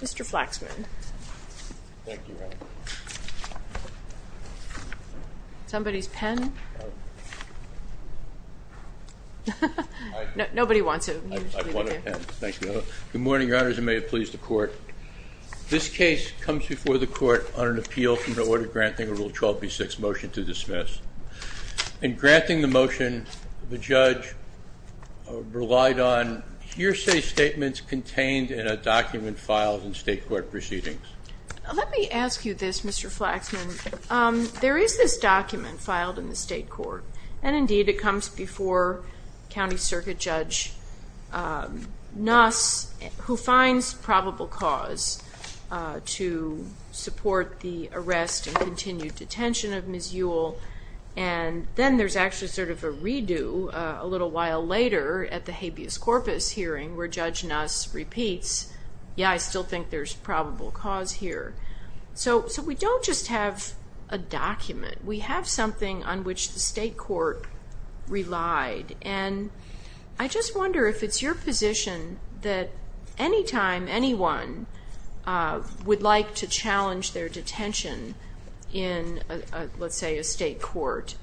Mr. Flaxman. Thank you. Somebody's pen? Nobody wants it. I want a pen. Thank you. Good morning, Your Honors, and may it please the Court. This case comes before the Court on an appeal from the order granting a Rule 12b-6 motion to dismiss. In granting the motion, the judge relied on hearsay statements contained in a document filed in state court proceedings. Let me ask you this, Mr. Flaxman. There is this document filed in the state court, and indeed it comes before County Circuit Judge Nuss, who finds probable cause to support the arrest and continued detention of Ms. Ewell, and then there's actually sort of a redo a little while later at the habeas corpus hearing, where Judge Nuss repeats, yeah, I still think there's probable cause here. So we don't just have a document. We have something on which the state court relied, and I just wonder if it's your position that any time anyone would like to challenge their detention in, let's say, a state court,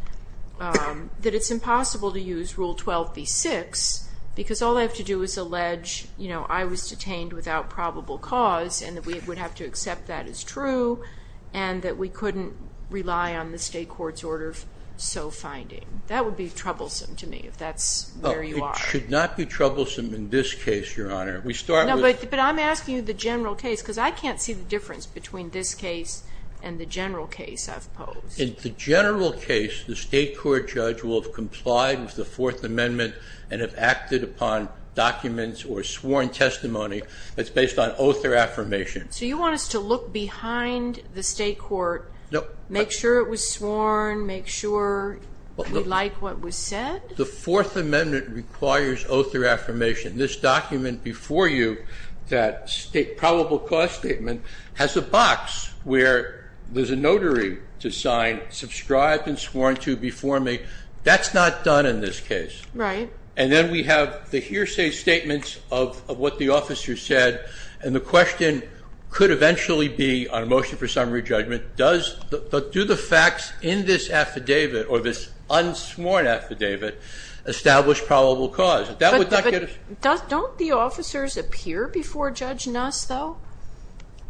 that it's impossible to use Rule 12b-6, because all I have to do is allege I was detained without probable cause, and that we would have to accept that as true, and that we couldn't rely on the state court's order so finding. That would be troublesome to me if that's where you are. It should not be troublesome in this case, Your Honor. No, but I'm asking you the general case, because I can't see the difference between this case and the general case I've posed. In the general case, the state court judge will have complied with the Fourth Amendment and have acted upon documents or sworn testimony that's based on oath or affirmation. So you want us to look behind the state court, make sure it was sworn, make sure we like what was said? The Fourth Amendment requires oath or affirmation. This document before you, that probable cause statement, has a box where there's a notary to sign, subscribed and sworn to before me. That's not done in this case. Right. And then we have the hearsay statements of what the officer said, and the question could eventually be, on a motion for summary judgment, do the facts in this affidavit or this unsworn affidavit establish probable cause? But don't the officers appear before Judge Nuss, though?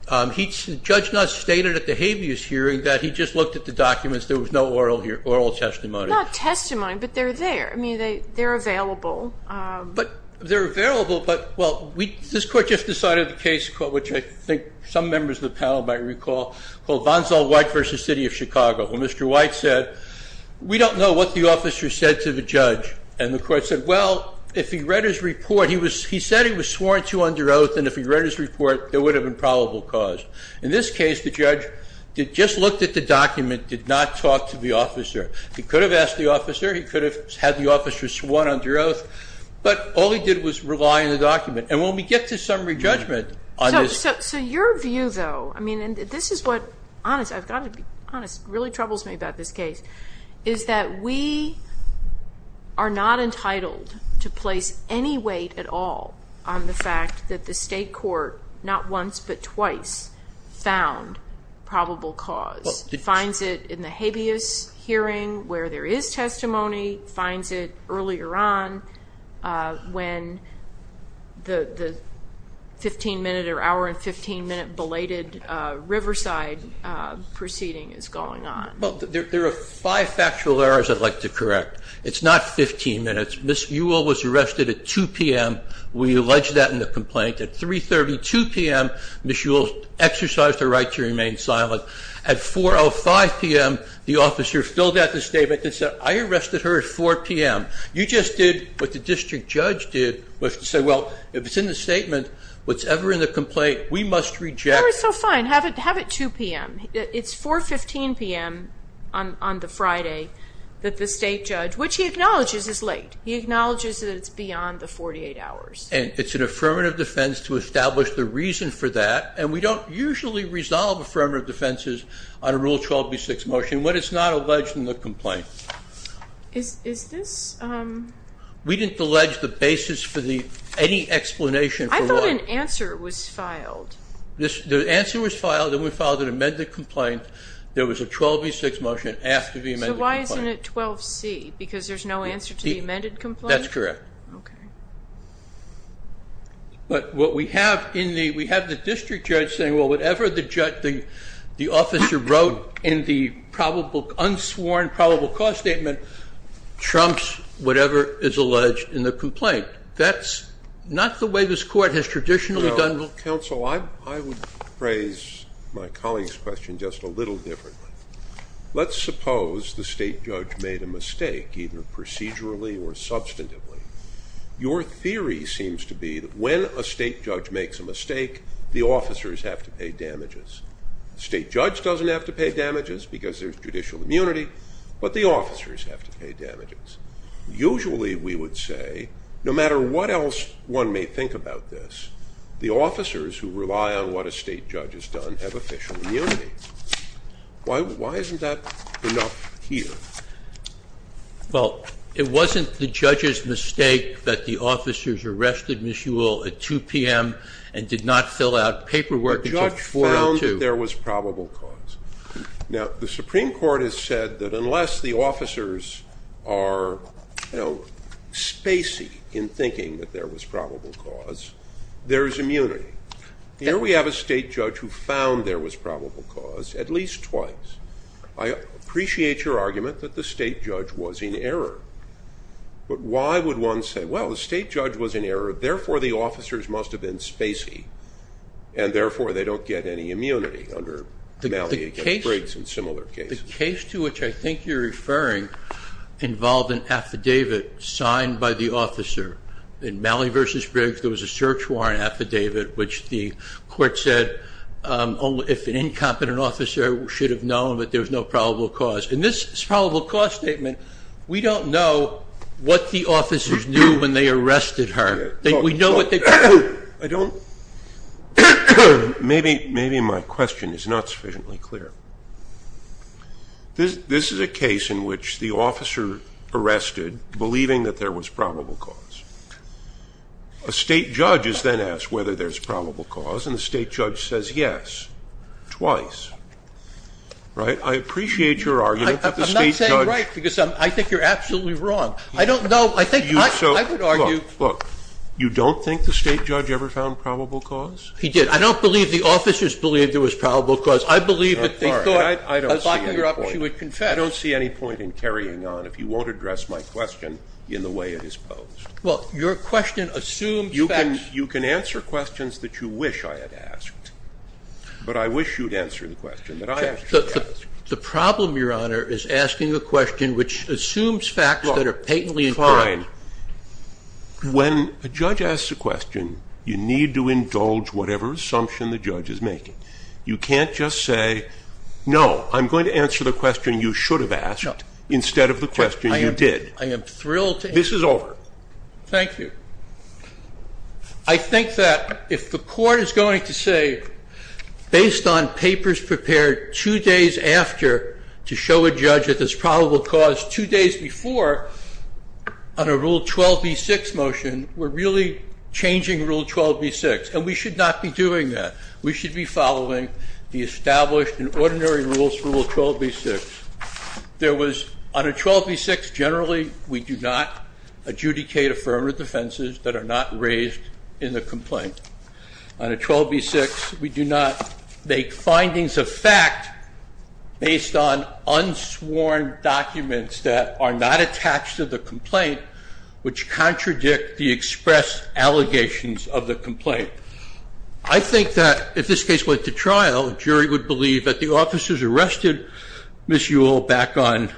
Judge Nuss stated at the habeas hearing that he just looked at the documents. There was no oral testimony. Not testimony, but they're there. I mean, they're available. They're available, but this court just decided the case, which I think some members of the panel might recall, called Vonsall White v. City of Chicago. Well, Mr. White said, we don't know what the officer said to the judge. And the court said, well, if he read his report, he said he was sworn to under oath, and if he read his report, there would have been probable cause. In this case, the judge just looked at the document, did not talk to the officer. He could have asked the officer. He could have had the officer sworn under oath. But all he did was rely on the document. And when we get to summary judgment on this. So your view, though, I mean, and this is what, I've got to be honest, really troubles me about this case, is that we are not entitled to place any weight at all on the fact that the state court, not once but twice, found probable cause. Finds it in the habeas hearing where there is testimony, finds it earlier on when the 15-minute or hour and 15-minute belated Riverside proceeding is going on. Well, there are five factual errors I'd like to correct. It's not 15 minutes. Ms. Ewell was arrested at 2 p.m. We allege that in the complaint. At 3.32 p.m., Ms. Ewell exercised her right to remain silent. At 4.05 p.m., the officer filled out the statement and said, I arrested her at 4 p.m. You just did what the district judge did, which was to say, well, if it's in the statement, whatever's in the complaint, we must reject it. That was so fine. Have it 2 p.m. It's 4.15 p.m. on the Friday that the state judge, which he acknowledges is late. He acknowledges that it's beyond the 48 hours. And it's an affirmative defense to establish the reason for that. And we don't usually resolve affirmative defenses on a Rule 12b-6 motion when it's not alleged in the complaint. Is this? We didn't allege the basis for any explanation. I thought an answer was filed. The answer was filed, and we filed an amended complaint. There was a 12b-6 motion after the amended complaint. So why isn't it 12c, because there's no answer to the amended complaint? That's correct. Okay. But what we have in the we have the district judge saying, well, whatever the officer wrote in the unsworn probable cause statement trumps whatever is alleged in the complaint. That's not the way this court has traditionally done it. Counsel, I would phrase my colleague's question just a little differently. Let's suppose the state judge made a mistake, either procedurally or substantively. Your theory seems to be that when a state judge makes a mistake, the officers have to pay damages. The state judge doesn't have to pay damages because there's judicial immunity, but the officers have to pay damages. Usually we would say, no matter what else one may think about this, the officers who rely on what a state judge has done have official immunity. Why isn't that enough here? Well, it wasn't the judge's mistake that the officers arrested Ms. Ewell at 2 p.m. and did not fill out paperwork until 4 or 2. The judge found that there was probable cause. Now, the Supreme Court has said that unless the officers are, you know, spacey in thinking that there was probable cause, there is immunity. Here we have a state judge who found there was probable cause at least twice. I appreciate your argument that the state judge was in error, but why would one say, well, the state judge was in error, therefore the officers must have been spacey, and therefore they don't get any immunity under Malley v. Briggs and similar cases? The case to which I think you're referring involved an affidavit signed by the officer. In Malley v. Briggs there was a search warrant affidavit which the court said if an incompetent officer should have known that there was no probable cause. In this probable cause statement, we don't know what the officers knew when they arrested her. Maybe my question is not sufficiently clear. This is a case in which the officer arrested believing that there was probable cause. A state judge is then asked whether there's probable cause, and the state judge says yes, twice. Right? I appreciate your argument that the state judge ---- I'm not saying right, because I think you're absolutely wrong. I don't know. I think I would argue ---- Look, look. You don't think the state judge ever found probable cause? He did. I don't believe the officers believed there was probable cause. I believe that they thought ---- All right. I don't see any point in carrying on if you won't address my question in the way it is posed. Well, your question assumes that ---- You can answer questions that you wish I had asked, but I wish you'd answer the question that I actually asked. The problem, Your Honor, is asking a question which assumes facts that are patently inclined. Fine. When a judge asks a question, you need to indulge whatever assumption the judge is making. You can't just say, no, I'm going to answer the question you should have asked instead of the question you did. I am thrilled to ---- This is over. Thank you. I think that if the court is going to say, based on papers prepared two days after to show a judge that there's probable cause two days before on a Rule 12b-6 motion, we're really changing Rule 12b-6, and we should not be doing that. We should be following the established and ordinary rules for Rule 12b-6. On a 12b-6, generally, we do not adjudicate affirmative defenses that are not raised in the complaint. On a 12b-6, we do not make findings of fact based on unsworn documents that are not attached to the complaint, which contradict the expressed allegations of the complaint. I think that if this case went to trial, a jury would believe that the officers arrested Ms. Yule back on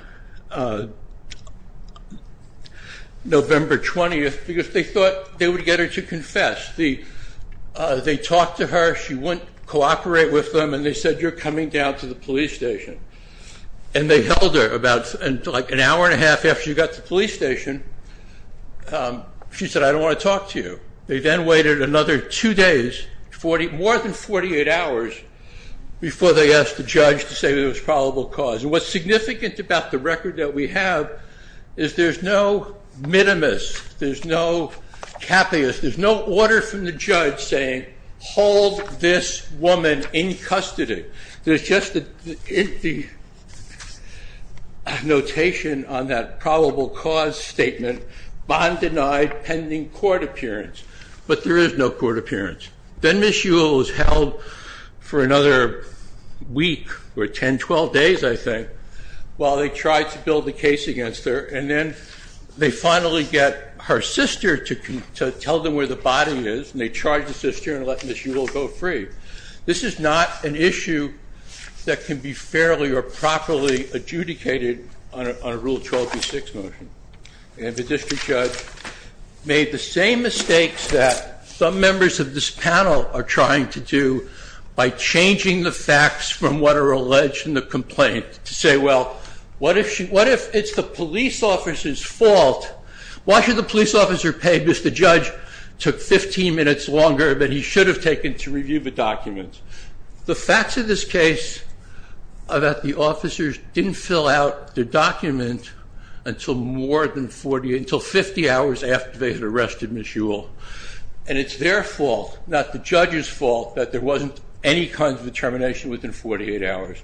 November 20th because they thought they would get her to confess. They talked to her. She wouldn't cooperate with them, and they said, you're coming down to the police station. And they held her about an hour and a half after she got to the police station. She said, I don't want to talk to you. They then waited another two days, more than 48 hours, before they asked the judge to say there was probable cause. And what's significant about the record that we have is there's no minimus. There's no cappius. There's no order from the judge saying, hold this woman in custody. There's just the notation on that probable cause statement, bond denied, pending court appearance. But there is no court appearance. Then Ms. Yule was held for another week or 10, 12 days, I think, while they tried to build the case against her. And then they finally get her sister to tell them where the body is, and they charge the sister and let Ms. Yule go free. This is not an issue that can be fairly or properly adjudicated on a Rule 12B6 motion. And the district judge made the same mistakes that some members of this panel are trying to do by changing the facts from what are alleged in the complaint to say, well, what if it's the police officer's fault? Why should the police officer pay? Because the judge took 15 minutes longer than he should have taken to review the document. The facts of this case are that the officers didn't fill out the document until more than 40, until 50 hours after they had arrested Ms. Yule. And it's their fault, not the judge's fault, that there wasn't any kind of determination within 48 hours.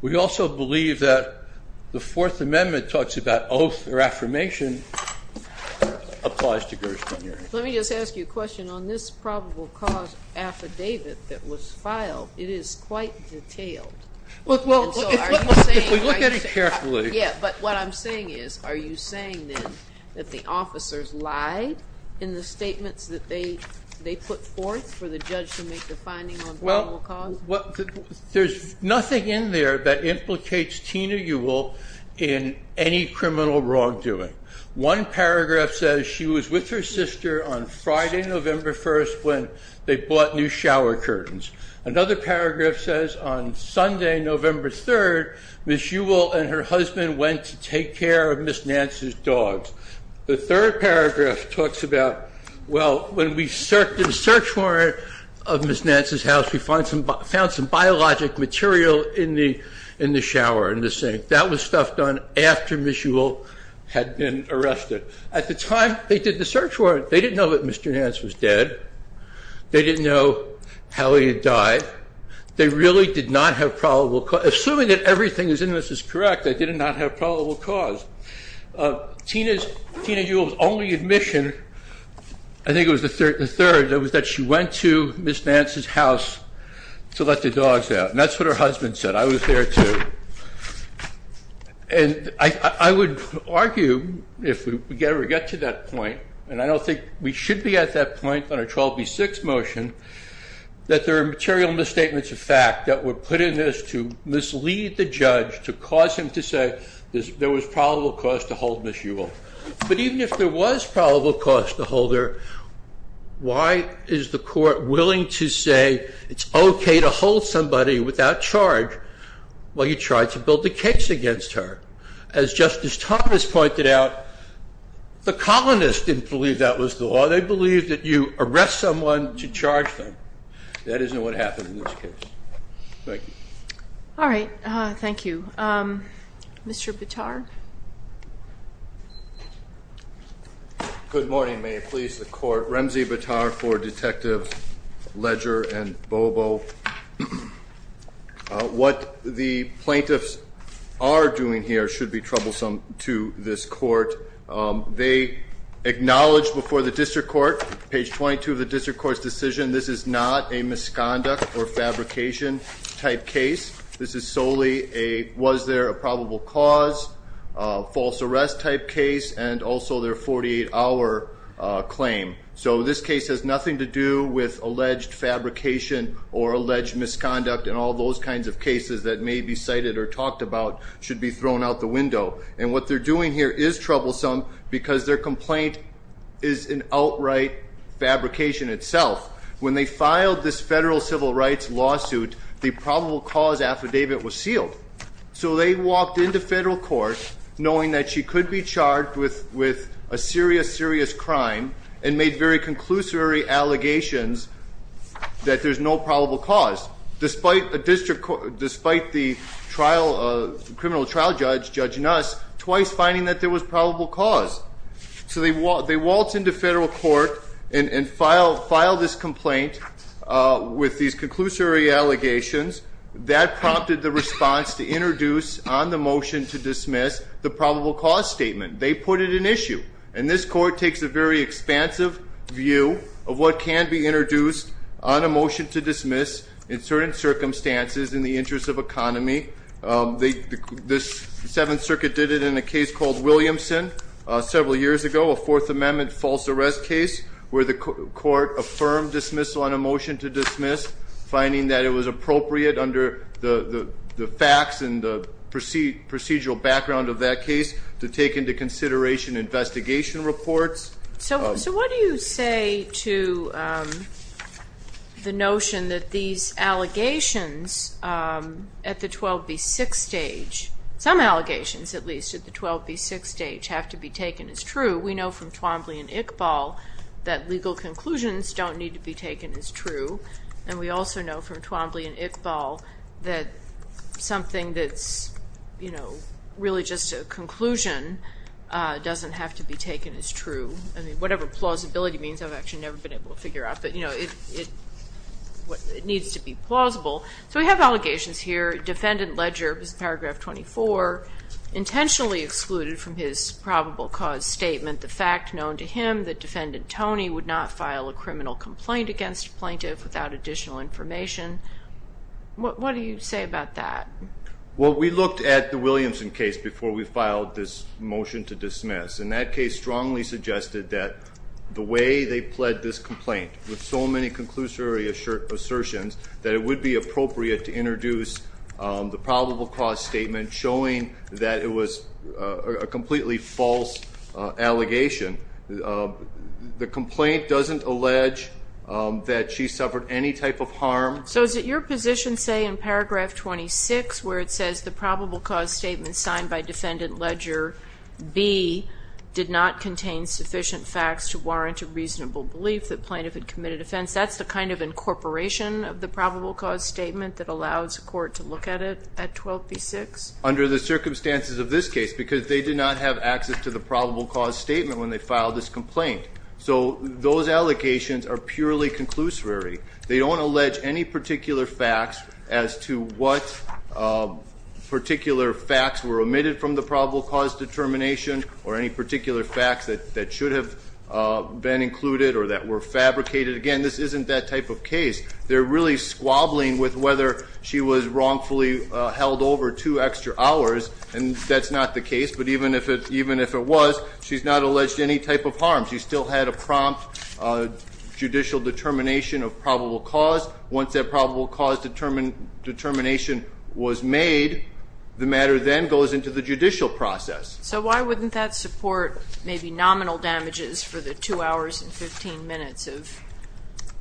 We also believe that the Fourth Amendment talks about oath or affirmation applies to Gershwin. Let me just ask you a question. On this probable cause affidavit that was filed, it is quite detailed. Well, look at it carefully. Yeah, but what I'm saying is, are you saying then that the officers lied in the statements that they put forth for the judge to make the finding on probable cause? There's nothing in there that implicates Tina Yule in any criminal wrongdoing. One paragraph says she was with her sister on Friday, November 1st, when they bought new shower curtains. Another paragraph says on Sunday, November 3rd, Ms. Yule and her husband went to take care of Ms. Nance's dogs. The third paragraph talks about, well, when we searched the search warrant of Ms. Nance's house, we found some biologic material in the shower, in the sink. That was stuff done after Ms. Yule had been arrested. At the time they did the search warrant, they didn't know that Mr. Nance was dead. They didn't know how he had died. They really did not have probable cause. Assuming that everything that's in this is correct, they did not have probable cause. Tina Yule's only admission, I think it was the third, was that she went to Ms. Nance's house to let the dogs out. And that's what her husband said. I was there, too. And I would argue, if we ever get to that point, and I don't think we should be at that point on a 12B6 motion, that there are material misstatements of fact that were put in this to mislead the judge, to cause him to say there was probable cause to hold Ms. Yule. But even if there was probable cause to hold her, why is the court willing to say it's okay to hold somebody without charge while you tried to build a case against her? As Justice Thomas pointed out, the colonists didn't believe that was the law. They believed that you arrest someone to charge them. That isn't what happened in this case. Thank you. All right. Thank you. Mr. Bitar? Good morning. May it please the court. Ramzi Bitar for Detectives Ledger and Bobo. What the plaintiffs are doing here should be troublesome to this court. They acknowledged before the district court, page 22 of the district court's decision, this is not a misconduct or fabrication type case. This is solely a was there a probable cause, false arrest type case, and also their 48-hour claim. So this case has nothing to do with alleged fabrication or alleged misconduct, and all those kinds of cases that may be cited or talked about should be thrown out the window. And what they're doing here is troublesome because their complaint is an outright fabrication itself. When they filed this federal civil rights lawsuit, the probable cause affidavit was sealed. So they walked into federal court knowing that she could be charged with a serious, serious crime and made very conclusory allegations that there's no probable cause. Despite the criminal trial judge judging us, twice finding that there was probable cause. So they waltzed into federal court and filed this complaint with these conclusory allegations. That prompted the response to introduce on the motion to dismiss the probable cause statement. They put it in issue. And this court takes a very expansive view of what can be introduced on a motion to dismiss in certain circumstances in the interest of economy. This Seventh Circuit did it in a case called Williamson several years ago, a Fourth Amendment false arrest case where the court affirmed dismissal on a motion to dismiss, finding that it was appropriate under the facts and the procedural background of that case to take into consideration investigation reports. So what do you say to the notion that these allegations at the 12B6 stage, some allegations at least at the 12B6 stage, have to be taken as true? We know from Twombly and Iqbal that legal conclusions don't need to be taken as true. And we also know from Twombly and Iqbal that something that's really just a conclusion doesn't have to be taken as true. Whatever plausibility means, I've actually never been able to figure out. But it needs to be plausible. So we have allegations here. Defendant Ledger, paragraph 24, intentionally excluded from his probable cause statement the fact known to him that Defendant Tony would not file a criminal complaint against a plaintiff without additional information. What do you say about that? Well, we looked at the Williamson case before we filed this motion to dismiss. And that case strongly suggested that the way they pled this complaint, with so many conclusory assertions, that it would be appropriate to introduce the probable cause statement showing that it was a completely false allegation. The complaint doesn't allege that she suffered any type of harm. So is it your position, say, in paragraph 26, where it says the probable cause statement signed by Defendant Ledger B did not contain sufficient facts to warrant a reasonable belief that plaintiff had committed offense? That's the kind of incorporation of the probable cause statement that allows a court to look at it at 12b-6? Under the circumstances of this case, because they did not have access to the probable cause statement when they filed this complaint. So those allocations are purely conclusory. They don't allege any particular facts as to what particular facts were omitted from the probable cause determination or any particular facts that should have been included or that were fabricated. Again, this isn't that type of case. They're really squabbling with whether she was wrongfully held over two extra hours, and that's not the case. But even if it was, she's not alleged any type of harm. She still had a prompt judicial determination of probable cause. Once that probable cause determination was made, the matter then goes into the judicial process. So why wouldn't that support maybe nominal damages for the 2 hours and 15 minutes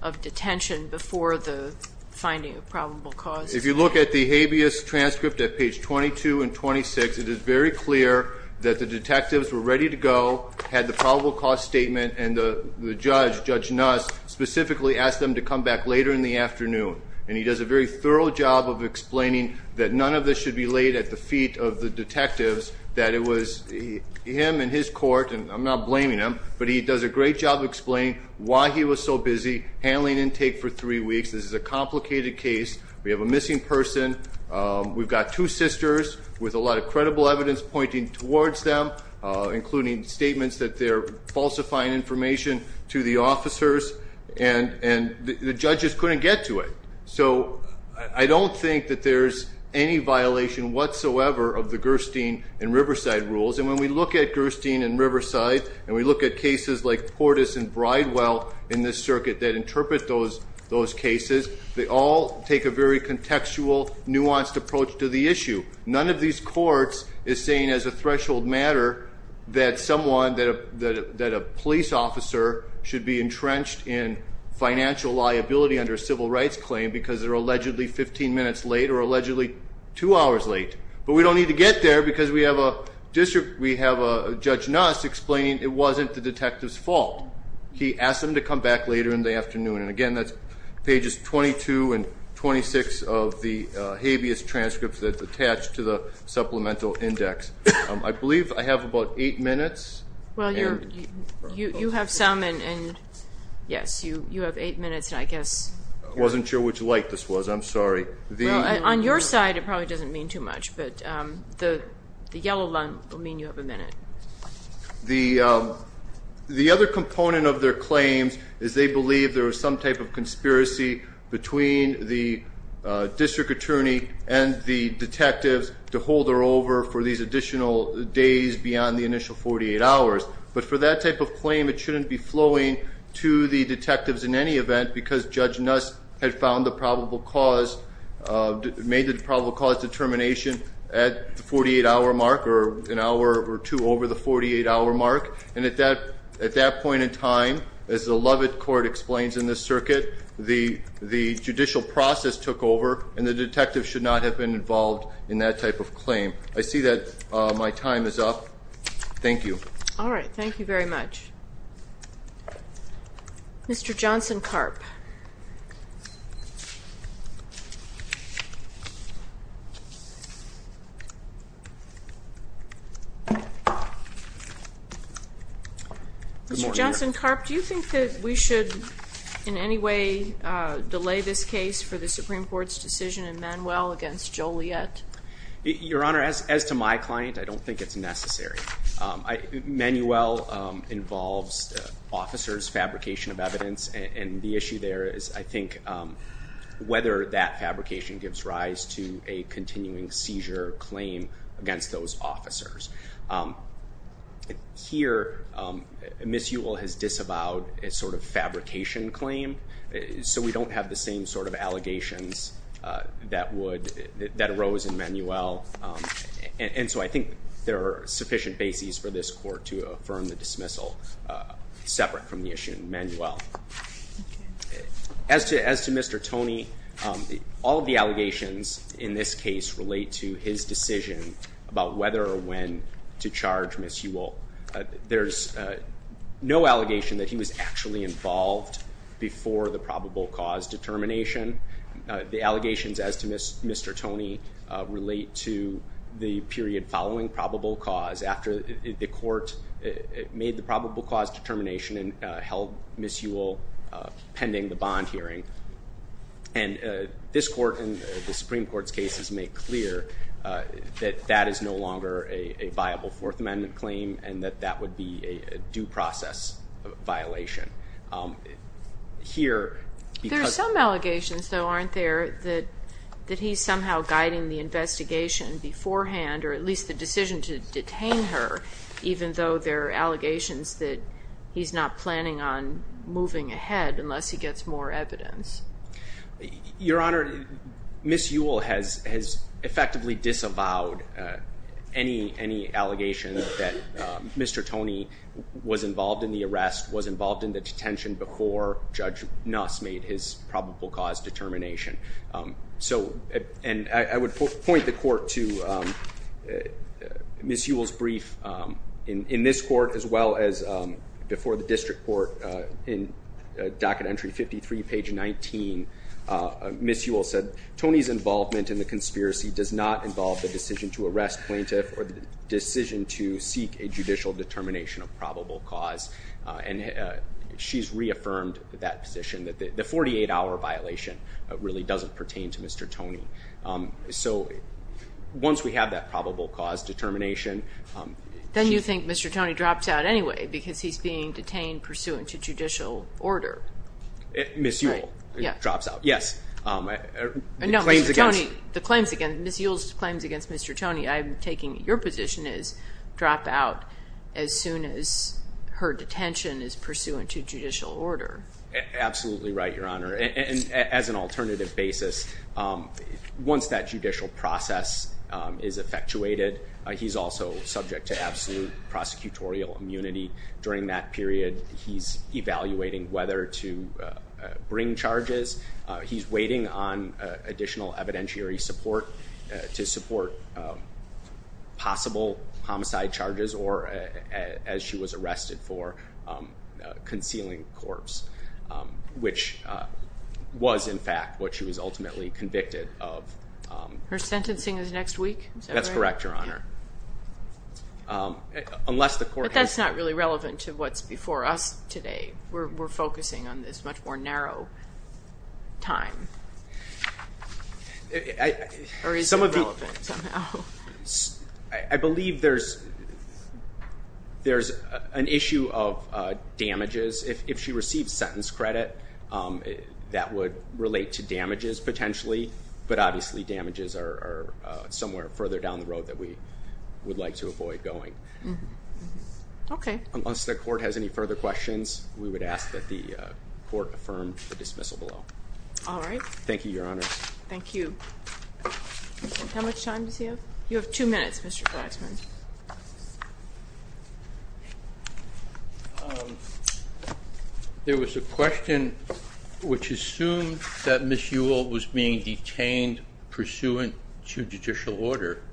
of detention before the finding of probable cause? If you look at the habeas transcript at page 22 and 26, it is very clear that the detectives were ready to go, had the probable cause statement, and the judge, Judge Nuss, specifically asked them to come back later in the afternoon. And he does a very thorough job of explaining that none of this should be laid at the feet of the detectives, that it was him and his court, and I'm not blaming him, but he does a great job of explaining why he was so busy handling intake for three weeks. This is a complicated case. We have a missing person. We've got two sisters with a lot of credible evidence pointing towards them, including statements that they're falsifying information to the officers, and the judges couldn't get to it. So I don't think that there's any violation whatsoever of the Gerstein and Riverside rules, and when we look at Gerstein and Riverside, and we look at cases like Portis and Bridewell in this circuit that interpret those cases, they all take a very contextual, nuanced approach to the issue. None of these courts is saying as a threshold matter that someone, that a police officer should be entrenched in financial liability under a civil rights claim because they're allegedly 15 minutes late or allegedly two hours late. But we don't need to get there because we have a judge Nuss explaining it wasn't the detective's fault. He asked them to come back later in the afternoon. And, again, that's pages 22 and 26 of the habeas transcripts that's attached to the supplemental index. I believe I have about eight minutes. Well, you have some, and, yes, you have eight minutes, and I guess. I wasn't sure which light this was. I'm sorry. On your side, it probably doesn't mean too much, but the yellow line will mean you have a minute. The other component of their claims is they believe there was some type of conspiracy between the district attorney and the detectives to hold her over for these additional days beyond the initial 48 hours. But for that type of claim, it shouldn't be flowing to the detectives in any event because Judge Nuss had made the probable cause determination at the 48-hour mark or an hour or two over the 48-hour mark. And at that point in time, as the Lovett Court explains in this circuit, the judicial process took over, and the detectives should not have been involved in that type of claim. I see that my time is up. Thank you. All right. Thank you very much. Mr. Johnson-Karp. Mr. Johnson-Karp, do you think that we should in any way delay this case for the Supreme Court's decision in Manuel against Joliet? Your Honor, as to my client, I don't think it's necessary. Manuel involves officers' fabrication of evidence, and the issue there is I think whether that fabrication gives rise to a continuing seizure claim against those officers. Here, Ms. Ewell has disavowed a sort of fabrication claim, so we don't have the same sort of allegations that arose in Manuel. And so I think there are sufficient bases for this Court to affirm the dismissal separate from the issue in Manuel. As to Mr. Toney, all of the allegations in this case relate to his decision about whether or when to charge Ms. Ewell. There's no allegation that he was actually involved before the probable cause determination. The allegations as to Mr. Toney relate to the period following probable cause, after the Court made the probable cause determination and held Ms. Ewell pending the bond hearing. And this Court and the Supreme Court's cases make clear that that is no longer a viable Fourth Amendment claim and that that would be a due process violation. There are some allegations, though, aren't there, that he's somehow guiding the investigation beforehand, or at least the decision to detain her, even though there are allegations that he's not planning on moving ahead unless he gets more evidence. Your Honor, Ms. Ewell has effectively disavowed any allegations that Mr. Toney was involved in the arrest, was involved in the detention before Judge Nuss made his probable cause determination. And I would point the Court to Ms. Ewell's brief in this Court, as well as before the District Court in docket entry 53, page 19. Ms. Ewell said, Tony's involvement in the conspiracy does not involve the decision to arrest plaintiff or the decision to seek a judicial determination of probable cause. And she's reaffirmed that position, that the 48-hour violation really doesn't pertain to Mr. Toney. So once we have that probable cause determination... Then you think Mr. Toney drops out anyway because he's being detained pursuant to judicial order. Ms. Ewell drops out, yes. No, Mr. Toney, the claims against Ms. Ewell's claims against Mr. Toney, I'm taking your position is drop out as soon as her detention is pursuant to judicial order. Absolutely right, Your Honor. And as an alternative basis, once that judicial process is effectuated, he's also subject to absolute prosecutorial immunity. During that period, he's evaluating whether to bring charges. He's waiting on additional evidentiary support to support possible homicide charges or, as she was arrested for, concealing corpse, which was, in fact, what she was ultimately convicted of. Her sentencing is next week? That's correct, Your Honor. But that's not really relevant to what's before us today. We're focusing on this much more narrow time. Or is it relevant somehow? I believe there's an issue of damages. If she receives sentence credit, that would relate to damages potentially, but obviously damages are somewhere further down the road that we would like to avoid going. Okay. Unless the court has any further questions, we would ask that the court affirm the dismissal below. All right. Thank you, Your Honor. Thank you. How much time does he have? You have two minutes, Mr. Braxman. There was a question which assumed that Ms. Ewell was being detained pursuant to judicial order.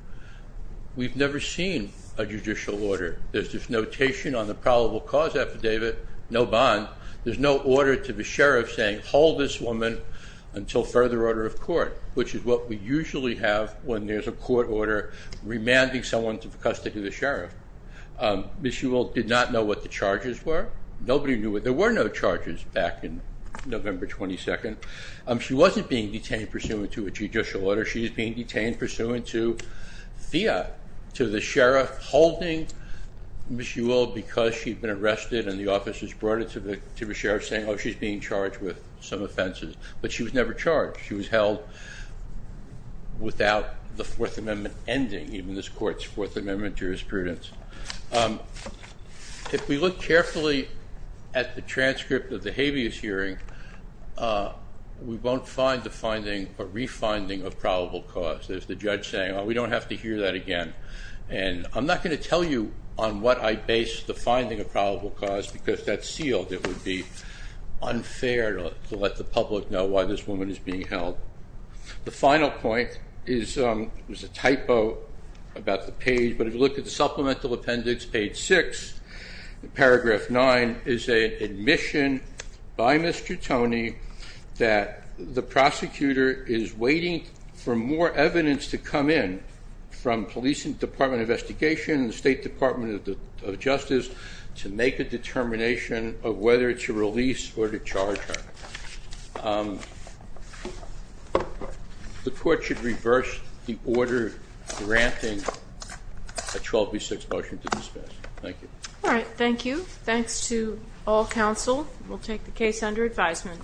We've never seen a judicial order. There's this notation on the probable cause affidavit, no bond. There's no order to the sheriff saying, hold this woman until further order of court, which is what we usually have when there's a court order remanding someone to the custody of the sheriff. Ms. Ewell did not know what the charges were. Nobody knew. There were no charges back in November 22nd. She wasn't being detained pursuant to a judicial order. She was being detained pursuant to FIA, to the sheriff holding Ms. Ewell because she'd been arrested and the officers brought her to the sheriff saying, oh, she's being charged with some offenses. But she was never charged. She was held without the Fourth Amendment ending, even this court's Fourth Amendment jurisprudence. If we look carefully at the transcript of the habeas hearing, we won't find the finding, but re-finding of probable cause. There's the judge saying, oh, we don't have to hear that again. And I'm not going to tell you on what I base the finding of probable cause because that's sealed. It would be unfair to let the public know why this woman is being held. The final point is a typo about the page, but if you look at the supplemental appendix, page 6, paragraph 9, is an admission by Mr. Toney that the prosecutor is waiting for more evidence to come in from police and Department of Investigation and State Department of Justice to make a determination of whether to release or to charge her. The court should reverse the order granting a 12 v. 6 motion to dismiss. Thank you. All right. Thank you. Thanks to all counsel. We'll take the case under advisement.